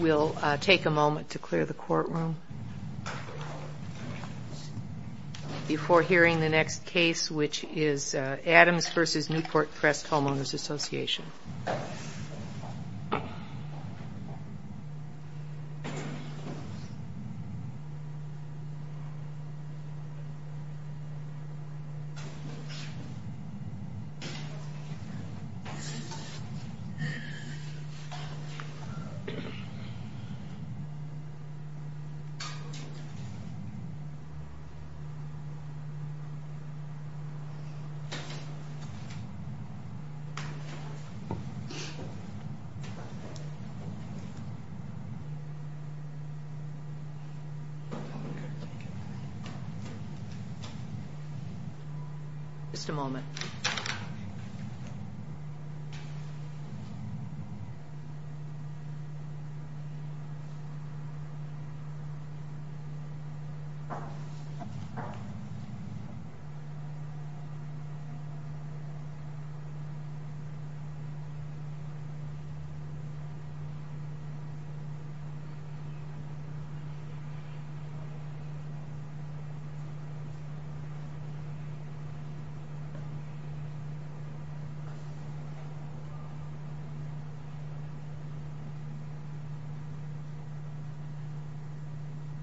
We'll take a moment to clear the courtroom before hearing the next case, which is Adams v. Newport Crest Homeowners Association. Okay. Just a moment.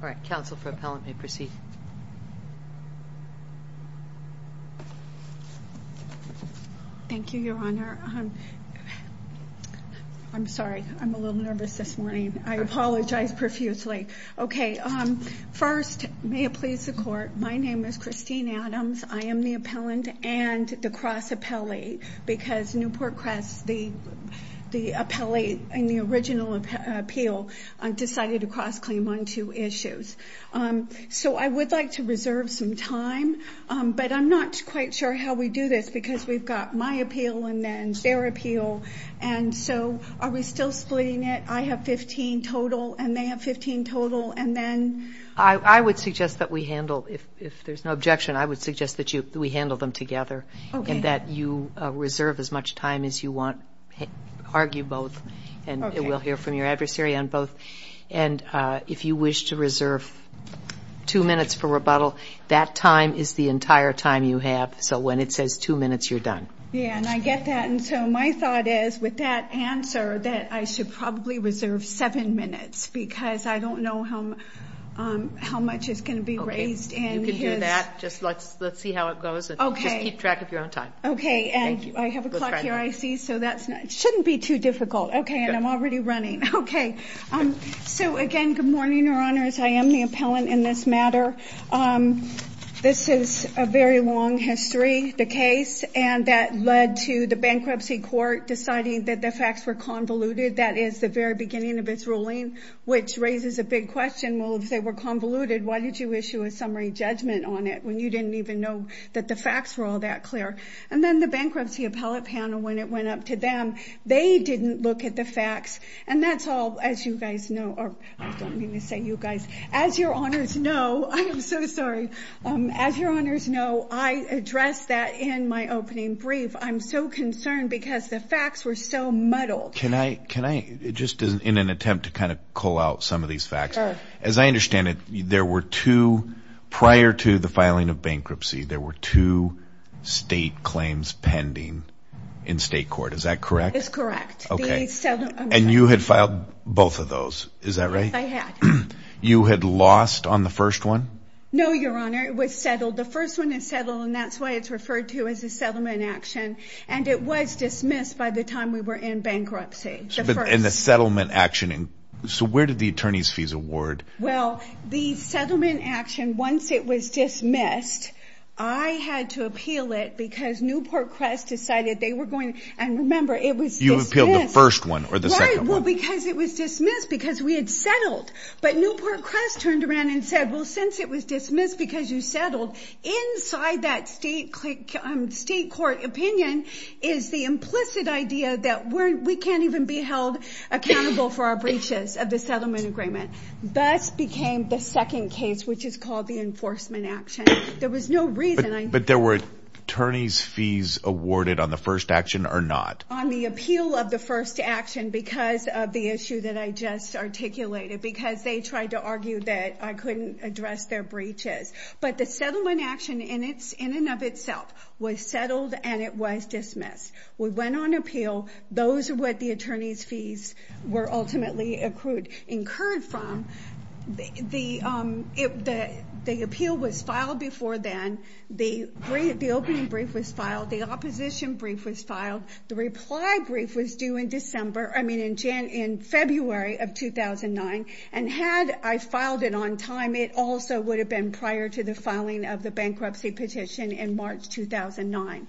All right, counsel for appellant may proceed. Thank you, your honor. I'm sorry. I'm a little nervous this morning. I apologize profusely. Okay. Um, first may it please the court. My name is Christine Adams. I am the appellant and the cross appellee because Newport Crest, the, the appellee in the original appeal, um, decided to cross claim on two issues. Um, so I would like to reserve some time. Um, but I'm not quite sure how we do this because we've got my appeal and then their appeal. And so are we still splitting it? I have 15 total and they have 15 total. And then I would suggest that we handle if, if there's no objection, I would suggest that you, we handle them together and that you reserve as much time as you want, argue both and we'll hear from your adversary on both. And, uh, if you wish to reserve two minutes for rebuttal, that time is the entire time you have. So when it says two minutes, you're done. Yeah. And I get that. And so my thought is with that answer that I should probably reserve seven minutes because I don't know how, um, how much is going to be raised. And you can do that. Just let's, let's see how it goes and keep track of your own time. Okay. And I have a clock here. So that's not, it shouldn't be too difficult. Okay. And I'm already running. Okay. Um, so again, good morning, your honors. I am the appellant in this matter. Um, this is a very long history, the case, and that led to the bankruptcy court deciding that the facts were convoluted. That is the very beginning of its ruling, which raises a big question. Well, if they were convoluted, why did you issue a summary judgment on it? When you didn't even know that the facts were all that clear. And then the bankruptcy appellate panel, when it went up to them, they didn't look at the facts. And that's all, as you guys know, or I don't mean to say you guys, as your honors know, I am so sorry. Um, as your honors know, I addressed that in my opening brief. I'm so concerned because the facts were so muddled. Can I, can I just in an attempt to kind of call out some of these facts, as I understand it, there were two prior to the filing of bankruptcy, there were two state claims pending in state court. Is that correct? It's correct. Okay. And you had filed both of those. Is that right? You had lost on the first one? No, your honor. It was settled. The first one is settled and that's why it's referred to as a settlement action. And it was dismissed by the time we were in bankruptcy. And the settlement action. And so where did the attorney's fees award? Well, the settlement action, once it was dismissed. I had to appeal it because Newport Crest decided they were going and remember it was, you appealed the first one or the second one because it was dismissed because we had settled, but Newport Crest turned around and said, well, since it was dismissed because you settled inside that state state court opinion is the implicit idea that we're, we can't even be held accountable for our breaches of the settlement agreement, thus became the second case, which is called the enforcement action. There was no reason. But there were attorneys fees awarded on the first action or not? On the appeal of the first action because of the issue that I just articulated, because they tried to argue that I couldn't address their breaches, but the settlement action in it's in and of itself was settled and it was dismissed. We went on appeal. Those are what the attorney's fees were ultimately accrued incurred from the, um, the, the appeal was filed before then. The brief, the opening brief was filed. The opposition brief was filed. The reply brief was due in December. I mean, in January, in February of 2009, and had I filed it on time, it also would have been prior to the filing of the bankruptcy petition in March, 2009.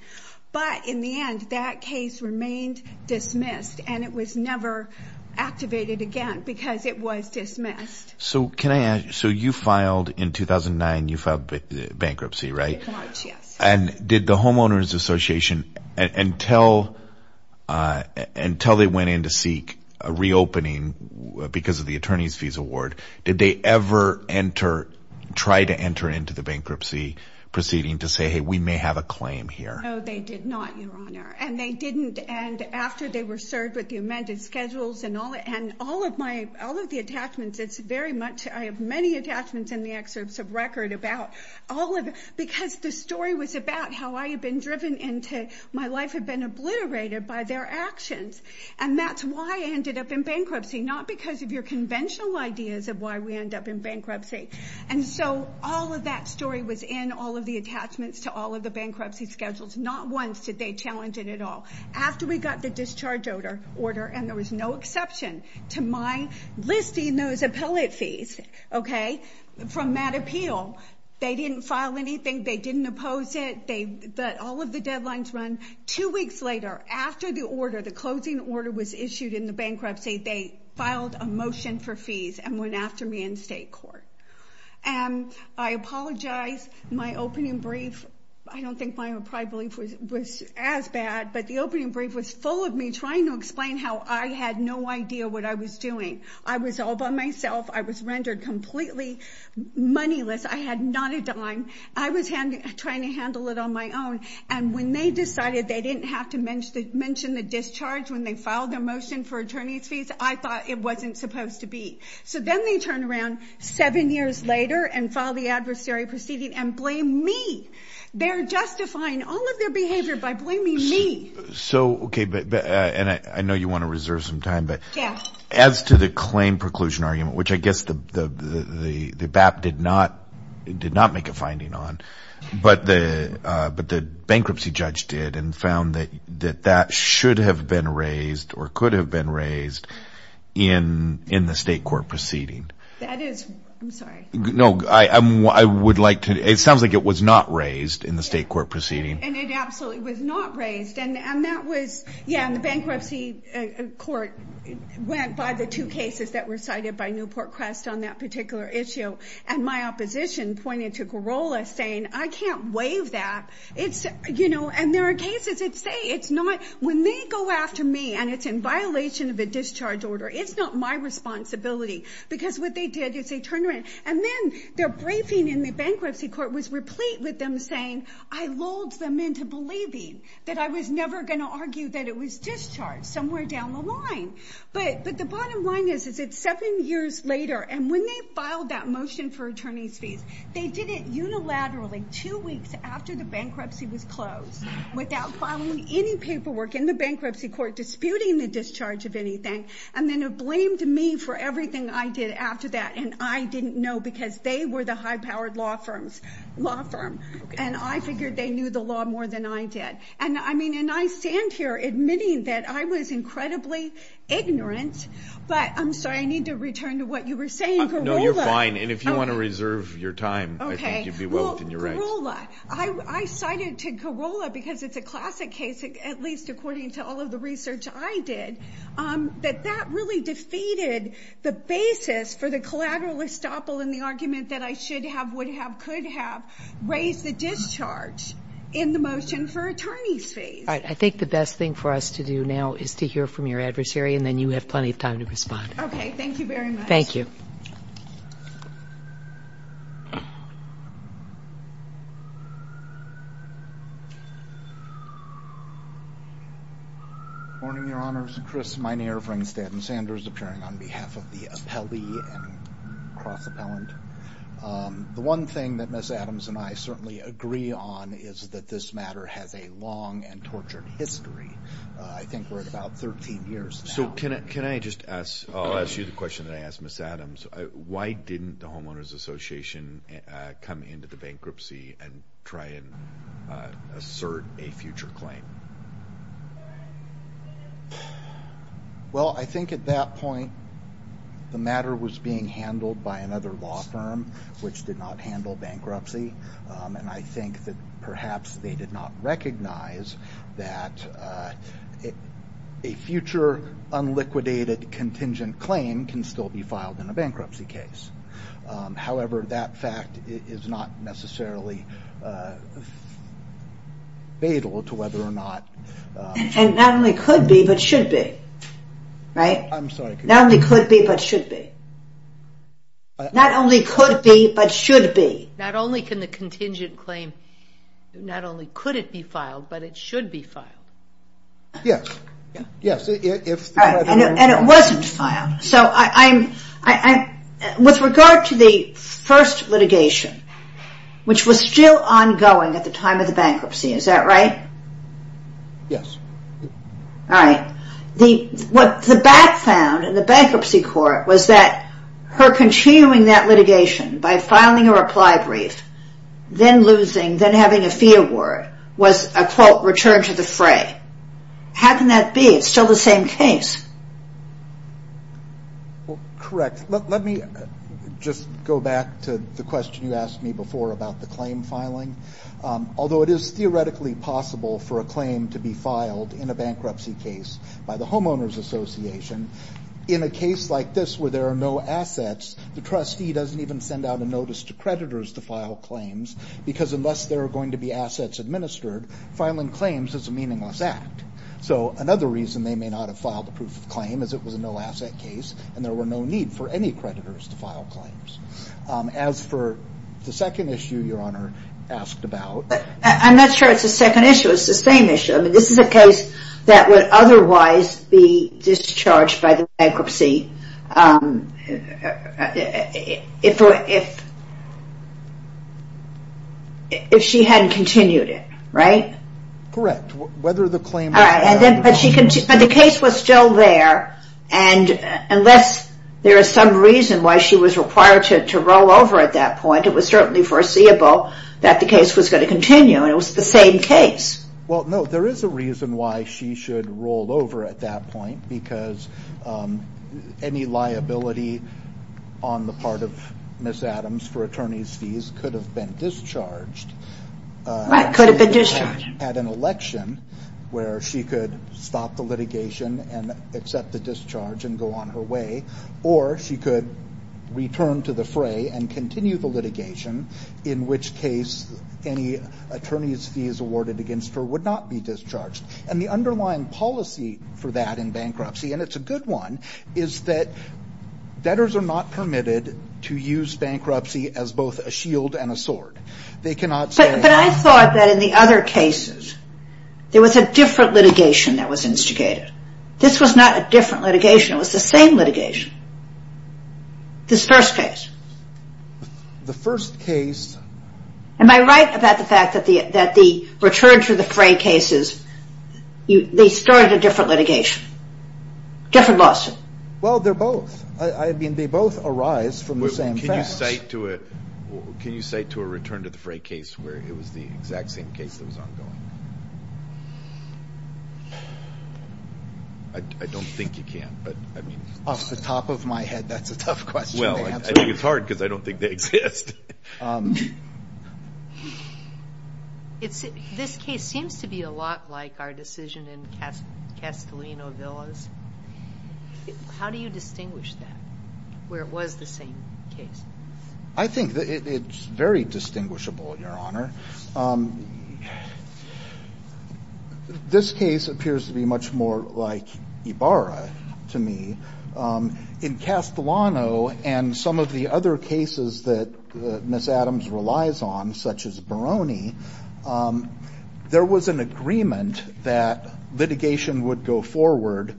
But in the end, that case remained dismissed and it was never activated again because it was dismissed. So can I ask, so you filed in 2009, you filed bankruptcy, right? And did the homeowner's association until, uh, until they went in to seek a reopening because of the attorney's fees award, did they ever enter, try to enter into the bankruptcy proceeding to say, Hey, we may have a claim here. Oh, they did not, Your Honor. And they didn't. And after they were served with the amended schedules and all, and all of my, all of the attachments, it's very much, I have many attachments in the excerpts of record about all of it because the story was about how I had been driven into my life had been obliterated by their actions and that's why I ended up in bankruptcy, not because of your conventional ideas of why we end up in bankruptcy. And so all of that story was in all of the attachments to all of the bankruptcy schedules. Not once did they challenge it at all. After we got the discharge order, and there was no exception to my listing those appellate fees, okay, from Matt Appeal, they didn't file anything. They didn't oppose it. They let all of the deadlines run. Two weeks later, after the order, the closing order was issued in the bankruptcy, they filed a motion for fees and went after me in state court. And I apologize. My opening brief, I don't think my private brief was as bad, but the opening brief was full of me trying to explain how I had no idea what I was doing. I was all by myself. I was rendered completely moneyless. I had not a dime. I was trying to handle it on my own. And when they decided they didn't have to mention the discharge when they filed their motion for attorney's fees, I thought it wasn't supposed to be. So then they turned around seven years later and filed the adversary proceeding and blamed me. They're justifying all of their behavior by blaming me. So, okay, and I know you want to reserve some time, but as to the claim preclusion argument, which I guess the BAP did not make a finding on, but the bankruptcy judge did and found that that should have been raised or could have been raised in the state court proceeding. That is, I'm sorry. No, I would like to, it sounds like it was not raised in the state court proceeding. And it absolutely was not raised. And that was, yeah, and the bankruptcy court went by the two cases that were cited by Newport Crest on that particular issue. And my opposition pointed to Corolla saying, I can't waive that. It's, you know, and there are cases that say it's not, when they go after me and it's in violation of a discharge order, it's not my responsibility because what they did is they turned around and then their briefing in the bankruptcy court was replete with them saying, I lulled them into believing that I was never going to argue that it was discharged somewhere down the line. But, but the bottom line is, is it's seven years later. And when they filed that motion for attorney's fees, they did it unilaterally two weeks after the bankruptcy was closed without filing any paperwork in the bankruptcy court, disputing the discharge of anything. And then it blamed me for everything I did after that. And I didn't know because they were the high powered law firms, law firm, and I figured they knew the law more than I did. And I mean, and I stand here admitting that I was incredibly ignorant, but I'm sorry, I need to return to what you were saying. No, you're fine. And if you want to reserve your time, I think you'd be well within your rights. I, I cited to Corolla because it's a classic case, at least according to all the research I did, that that really defeated the basis for the collateral estoppel in the argument that I should have, would have, could have raised the discharge in the motion for attorney's fees. All right. I think the best thing for us to do now is to hear from your adversary and then you have plenty of time to respond. Okay. Thank you very much. Thank you. Morning, your honors. Chris Miner, Ringstead and Sanders appearing on behalf of the appellee and cross appellant. Um, the one thing that Ms. Adams and I certainly agree on is that this matter has a long and tortured history. Uh, I think we're at about 13 years. So can I, can I just ask, I'll ask you the question that I asked Ms. Adams, why didn't the homeowners association, uh, come into the bankruptcy and try and, uh, assert a future claim? Well, I think at that point, the matter was being handled by another law firm, which did not handle bankruptcy. Um, and I think that perhaps they did not recognize that, uh, a future unliquidated contingent claim can still be filed in a bankruptcy case. Um, however, that fact is not necessarily, uh, fatal to whether or not, and not only could be, but should be right. I'm sorry. Not only could be, but should be. Not only could be, but should be. Not only can the contingent claim, not only could it be filed, but it should be filed. Yes. Yeah. Yeah. So if, and it wasn't filed, so I, I'm, I, I, with regard to the first litigation, which was still ongoing at the time of the bankruptcy, is that right? Yes. All right. The, what the back found in the bankruptcy court was that her continuing that litigation by filing a reply brief, then losing, then having a fee award was a quote, return to the fray. How can that be? It's still the same case. Well, correct. Let, let me just go back to the question you asked me before about the claim filing. Although it is theoretically possible for a claim to be filed in a bankruptcy case by the homeowner's association in a case like this, where there are no assets, the trustee doesn't even send out a notice to creditors to file claims because unless there are going to be assets administered, filing claims is a meaningless act. So another reason they may not have filed a proof of claim as it was a no asset case and there were no need for any creditors to file claims. As for the second issue, your honor asked about. I'm not sure it's a second issue. It's the same issue. I mean, this is a case that would otherwise be discharged by the bankruptcy. If, if, if she hadn't continued it, right? Correct. Whether the claim. All right. And then, but she can, but the case was still there. And unless there is some reason why she was required to, to roll over at that point, it was certainly foreseeable that the case was going to continue. And it was the same case. Well, no, there is a reason why she should roll over at that point, because any liability on the part of Ms. Adams for attorney's fees could have been discharged. Right. Could have been discharged. Had an election where she could stop the litigation and accept the discharge and go on her way. Or she could return to the fray and continue the litigation, in which case any attorney's fees awarded against her would not be discharged. And the underlying policy for that in bankruptcy, and it's a good one, is that debtors are not permitted to use bankruptcy as both a shield and a sword. They cannot say. But I thought that in the other cases, there was a different litigation that was instigated. This was not a different litigation. It was the same litigation. This first case. The first case. Am I right about the fact that the, that the return to the fray cases, you, they started a different litigation, different lawsuit. Well, they're both, I mean, they both arise from the same facts. Can you cite to a, can you cite to a return to the fray case where it was the exact same case that was ongoing? I don't think you can, but I mean. Off the top of my head. That's a tough question. Well, I think it's hard because I don't think they exist. It's, this case seems to be a lot like our decision in Castellino Villas. How do you distinguish that where it was the same case? I think that it's very distinguishable, your honor. This case appears to be much more like Ibarra to me in Castellino and some of the other cases that Ms. Adams relies on, such as Baroni there was an agreement that litigation would go forward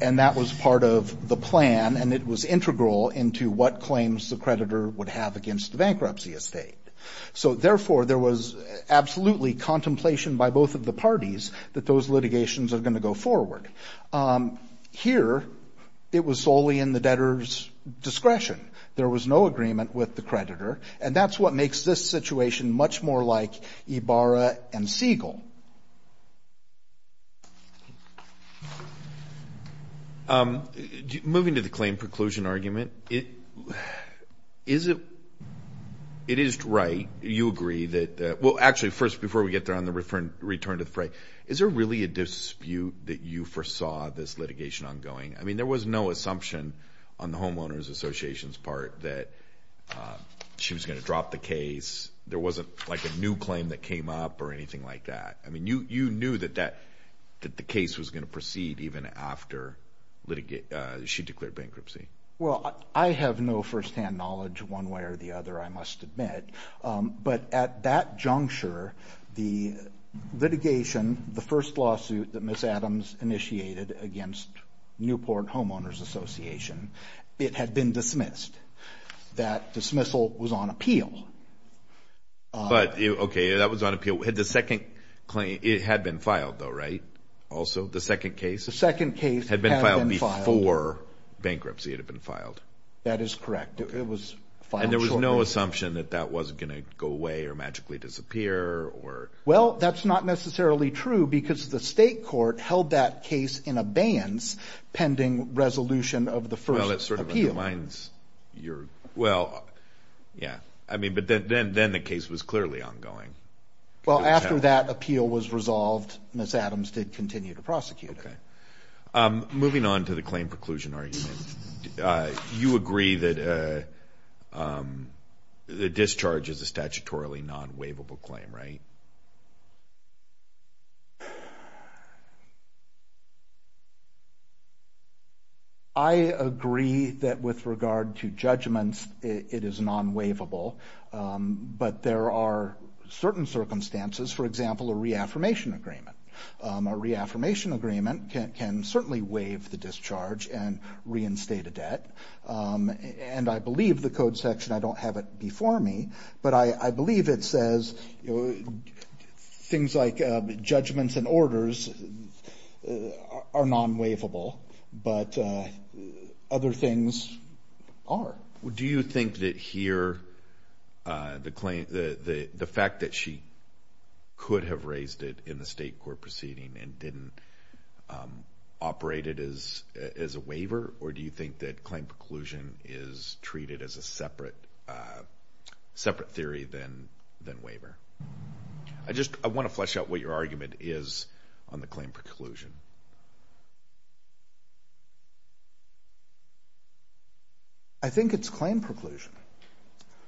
and that was part of the plan and it was integral into what claims the creditor would have against the bankruptcy estate. So therefore there was absolutely contemplation by both of the parties that those litigations are going to go forward. Here, it was solely in the debtor's discretion. There was no agreement with the creditor and that's what makes this situation much more like Ibarra and Siegel. Moving to the claim preclusion argument, it is right, you agree that, well, actually first before we get there on the return to the fray, is there really a dispute that you foresaw this litigation ongoing? I mean, there was no assumption on the homeowner's association's part that she was going to drop the case. There wasn't like a new claim that came up or anything like that. I mean, you knew that the case was going to proceed even after she declared bankruptcy. Well, I have no firsthand knowledge one way or the other, I must admit. But at that juncture, the litigation, the first lawsuit that Ms. Adams initiated against Newport Homeowners Association, it had been dismissed. That dismissal was on appeal. But okay, that was on appeal. Had the second claim, it had been filed though, right? Also the second case? The second case had been filed before bankruptcy had been filed. That is correct. It was filed shortly. And there was no assumption that that wasn't going to go away or magically disappear or? Well, that's not necessarily true because the state court held that case in abeyance pending resolution of the first appeal. Well, yeah. I mean, but then the case was clearly ongoing. Well, after that appeal was resolved, Ms. Adams did continue to prosecute it. Moving on to the claim preclusion argument, you agree that the discharge is a statutorily non-waivable claim, right? I agree that with regard to judgments, it is non-waivable, but there are certain circumstances, for example, a reaffirmation agreement. A reaffirmation agreement can certainly waive the discharge and reinstate a debt. And I believe the code section, I don't have it before me, but I believe it says things like judgments and orders are non-waivable, but other things are. Do you think that here, the fact that she could have raised it in the state court proceeding and didn't operate it as a waiver, or do you think that claim preclusion is treated as a separate theory than waiver? I just, I want to flesh out what your argument is on the claim preclusion. I think it's claim preclusion.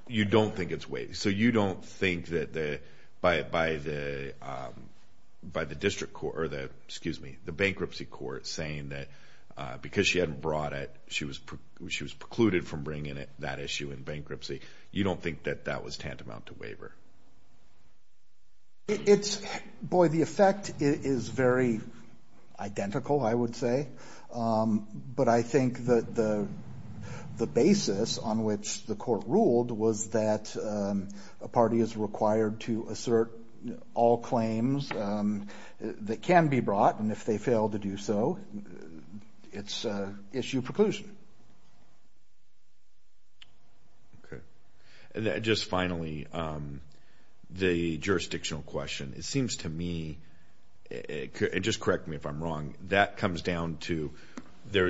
You don't think it's waived. So you don't think that by the district court, or the, excuse me, the bankruptcy court saying that because she hadn't brought it, she was precluded from bringing it, that issue in bankruptcy. You don't think that that was tantamount to waiver? Identical, I would say. But I think that the basis on which the court ruled was that a party is required to assert all claims that can be brought. And if they fail to do so, it's issue preclusion. Okay. And just finally, the jurisdictional question. It seems to me, and just correct me if I'm wrong, that comes down to,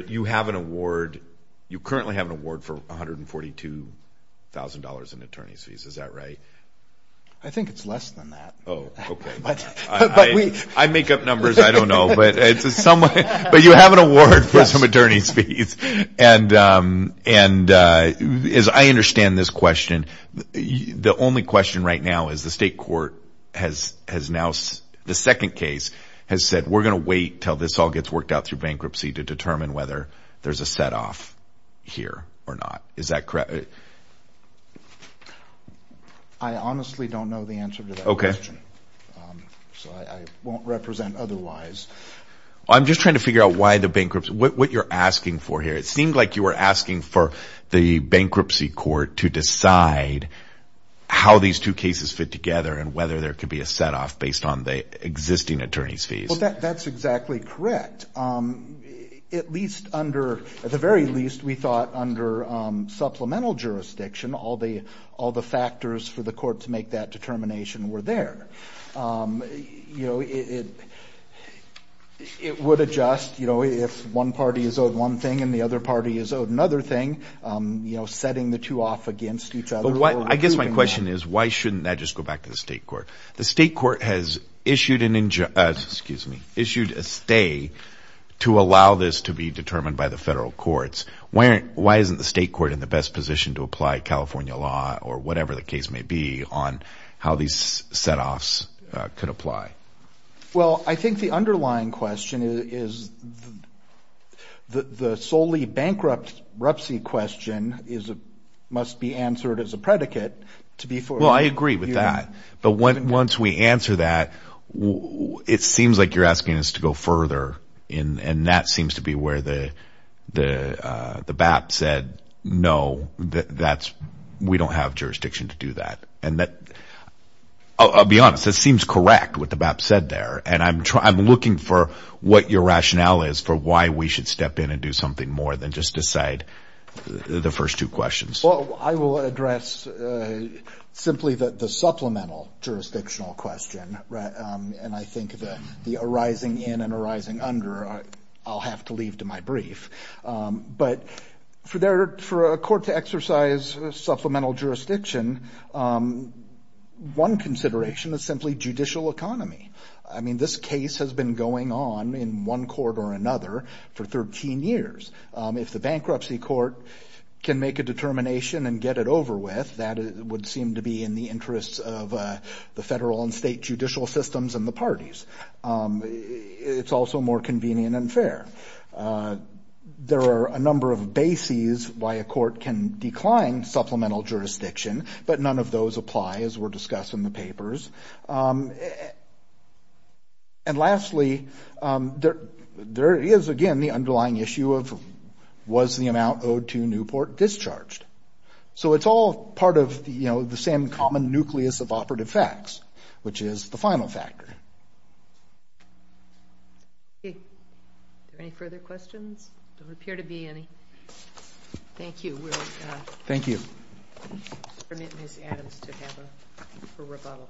you have an award, you currently have an award for $142,000 in attorney's fees. Is that right? I think it's less than that. Oh, okay. I make up numbers. I don't know, but you have an award for some attorney's fees. And as I understand this question, the only question right now is the state court has now, the second case has said, we're going to wait until this all gets worked out through bankruptcy to determine whether there's a set off here or not. Is that correct? I honestly don't know the answer to that question, so I won't represent otherwise. I'm just trying to figure out why the bankruptcy, what you're asking for here. It seemed like you were asking for the bankruptcy court to decide how these two cases fit together and whether there could be a set off based on the existing attorney's fees. Well, that's exactly correct. At least under, at the very least, we thought under supplemental jurisdiction, all the factors for the court to make that determination were there. It would adjust if one party is owed one thing and the other party is owed another thing, setting the two off against each other. I guess my question is, why shouldn't that just go back to the state court? The state court has issued a stay to allow this to be determined by the federal courts. Why isn't the state court in the best position to apply California law or whatever the case may be on how these set offs could apply? Well, I think the underlying question is the solely bankruptcy question must be answered as a predicate to be for- Well, I agree with that. But once we answer that, it seems like you're asking us to go further. That seems to be where the BAP said, no, we don't have jurisdiction to do that. I'll be honest, it seems correct what the BAP said there. I'm looking for what your rationale is for why we should step in and do something more than just decide the first two questions. Well, I will address simply the supplemental jurisdictional question. And I think the arising in and arising under, I'll have to leave to my brief. But for a court to exercise supplemental jurisdiction, one consideration is simply judicial economy. I mean, this case has been going on in one court or another for 13 years. If the bankruptcy court can make a determination and get it over with, that would seem to be in the interests of the federal and state judicial systems and the parties. It's also more convenient and fair. There are a number of bases why a court can decline supplemental jurisdiction, but none of those apply as were discussed in the papers. And lastly, there is, again, the underlying issue of was the amount owed to Newport discharged? So it's all part of the same common nucleus of operative facts, which is the final factor. Okay, are there any further questions? There appear to be any. Thank you. Thank you. Permit Ms. Adams to have a rebuttal.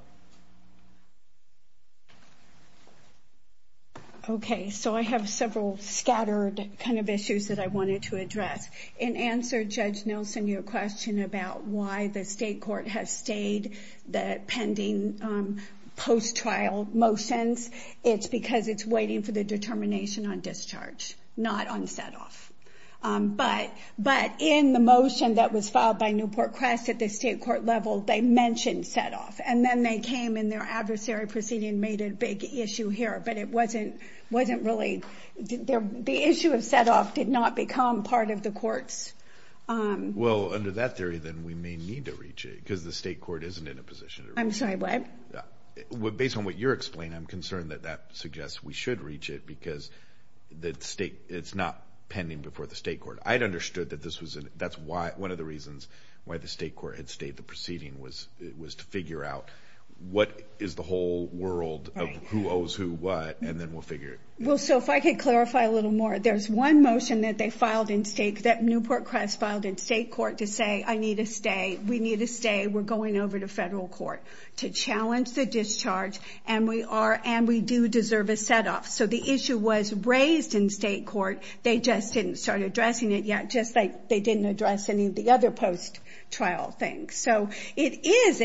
Okay, so I have several scattered kind of issues that I wanted to address. In answer, Judge Nelson, your question about why the state court has stayed the pending post-trial motions, it's because it's waiting for the determination on discharge, not on setoff. But in the motion that was filed by Newport Crest at the state court level, they mentioned setoff. And then they came in their adversary proceeding and made a big issue here, but it wasn't really... The issue of setoff did not become part of the court's... Well, under that theory, then we may need to reach it because the state court isn't in a position. I'm sorry, what? Based on what you're explaining, I'm concerned that that suggests we should reach it because the state... It's not pending before the state court. I'd understood that this was... That's one of the reasons why the state court had stayed. The proceeding was to figure out what is the whole world of who owes who what, and then we'll figure it. Well, so if I could clarify a little more. There's one motion that they filed in state, that Newport Crest filed in state court to say, I need to stay. We need to stay. We're going over to federal court to challenge the discharge and we do deserve a setoff. The issue was raised in state court. They just didn't start addressing it yet, just like they didn't address any of the other post-trial things. It is...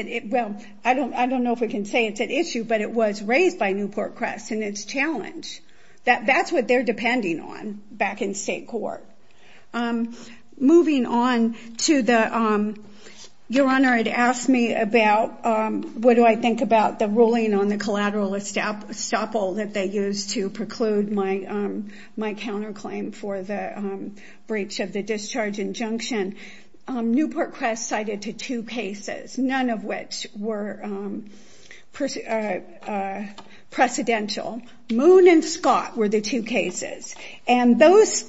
I don't know if we can say it's an issue, but it was raised by Newport Crest and it's challenged. That's what they're depending on back in state court. Moving on to the... Your Honor had asked me about... Stop all that they use to preclude my counterclaim for the breach of the discharge injunction. Newport Crest cited to two cases, none of which were precedential. Moon and Scott were the two cases. And those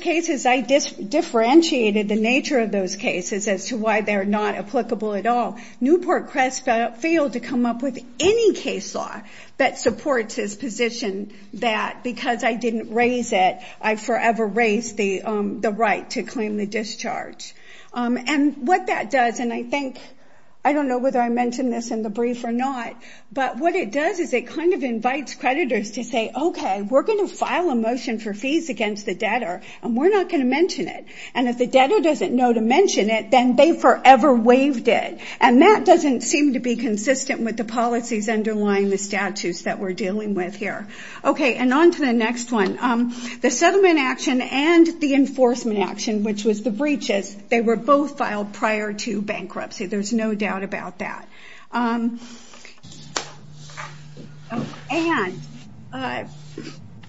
cases, I differentiated the nature of those cases as to why they're not applicable at all. Newport Crest failed to come up with any case law that supports his position that because I didn't raise it, I forever raised the right to claim the discharge. And what that does, and I think... I don't know whether I mentioned this in the brief or not, but what it does is it kind of invites creditors to say, okay, we're going to file a motion for fees against the debtor and we're not going to mention it. And if the debtor doesn't know to mention it, then they forever waived it. That doesn't seem to be consistent with the policies underlying the statutes that we're dealing with here. Okay, and on to the next one. The settlement action and the enforcement action, which was the breaches, they were both filed prior to bankruptcy. There's no doubt about that. And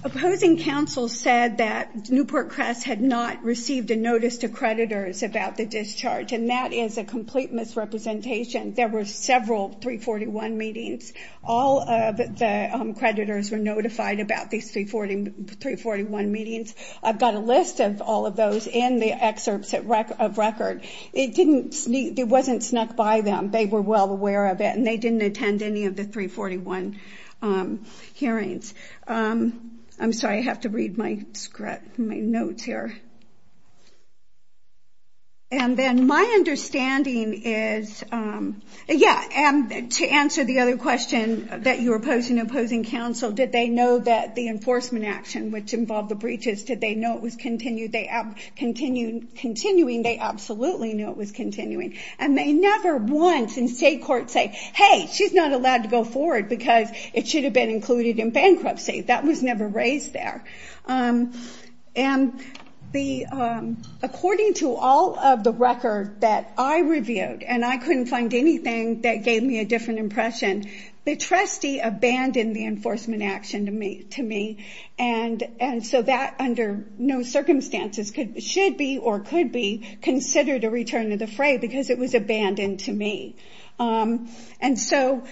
opposing counsel said that Newport Crest had not received a notice to creditors about the discharge. And that is a complete misrepresentation. There were several 341 meetings. All of the creditors were notified about these 341 meetings. I've got a list of all of those in the excerpts of record. It wasn't snuck by them. They were well aware of it and they didn't attend any of the 341 hearings. I'm sorry, I have to read my notes here. And then my understanding is, yeah, to answer the other question that you were posing, opposing counsel, did they know that the enforcement action, which involved the breaches, did they know it was continuing? They absolutely knew it was continuing. And they never once in state court say, hey, she's not allowed to go forward because it should have been included in bankruptcy. That was never raised there. And according to all of the record that I reviewed, and I couldn't find anything that gave me a different impression, the trustee abandoned the enforcement action to me. And so that under no circumstances should be or could be considered a return to the fray because it was abandoned to me. And so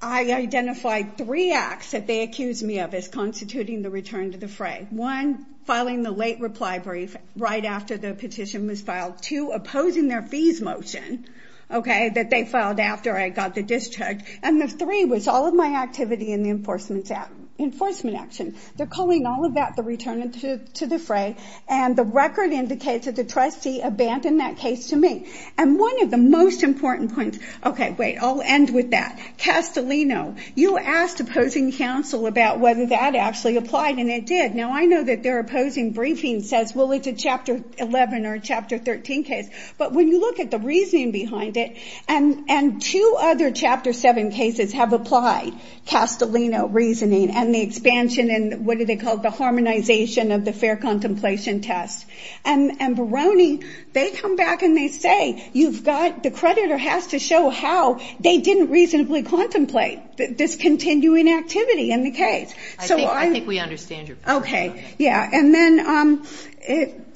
I identified three acts that they accused me of as constituting the return to the fray. One, filing the late reply brief right after the petition was filed. Two, opposing their fees motion that they filed after I got the discharge. And the three was all of my activity in the enforcement action. They're calling all of that the return to the fray. And the record indicates that the trustee abandoned that case to me. And one of the most important points, OK, wait, I'll end with that. Castellino, you asked opposing counsel about whether that actually applied and it did. Now, I know that their opposing briefing says, well, it's a chapter 11 or chapter 13 case. But when you look at the reasoning behind it, and two other chapter 7 cases have applied, Castellino reasoning and the expansion and what do they call it, the harmonization of the fair contemplation test. And Barone, they come back and they say, you've got, the creditor has to show how they didn't reasonably contemplate this continuing activity in the case. I think we understand your point. OK, yeah. And then,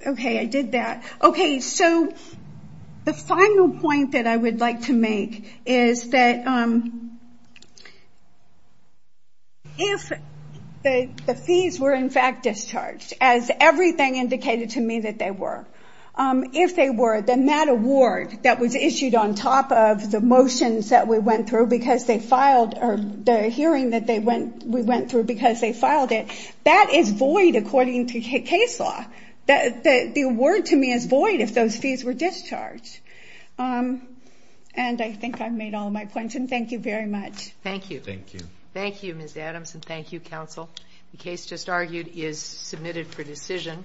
OK, I did that. OK, so the final point that I would like to make is that if the fees were in fact discharged, as everything indicated to me that they were, if they were, then that award that was issued on top of the motions that we went through because they filed, or the hearing that we went through because they filed it, that is void according to case law. The award to me is void if those fees were discharged. And I think I've made all my points. And thank you very much. Thank you. Thank you. Thank you, Ms. Adams, and thank you, counsel. The case just argued is submitted for decision.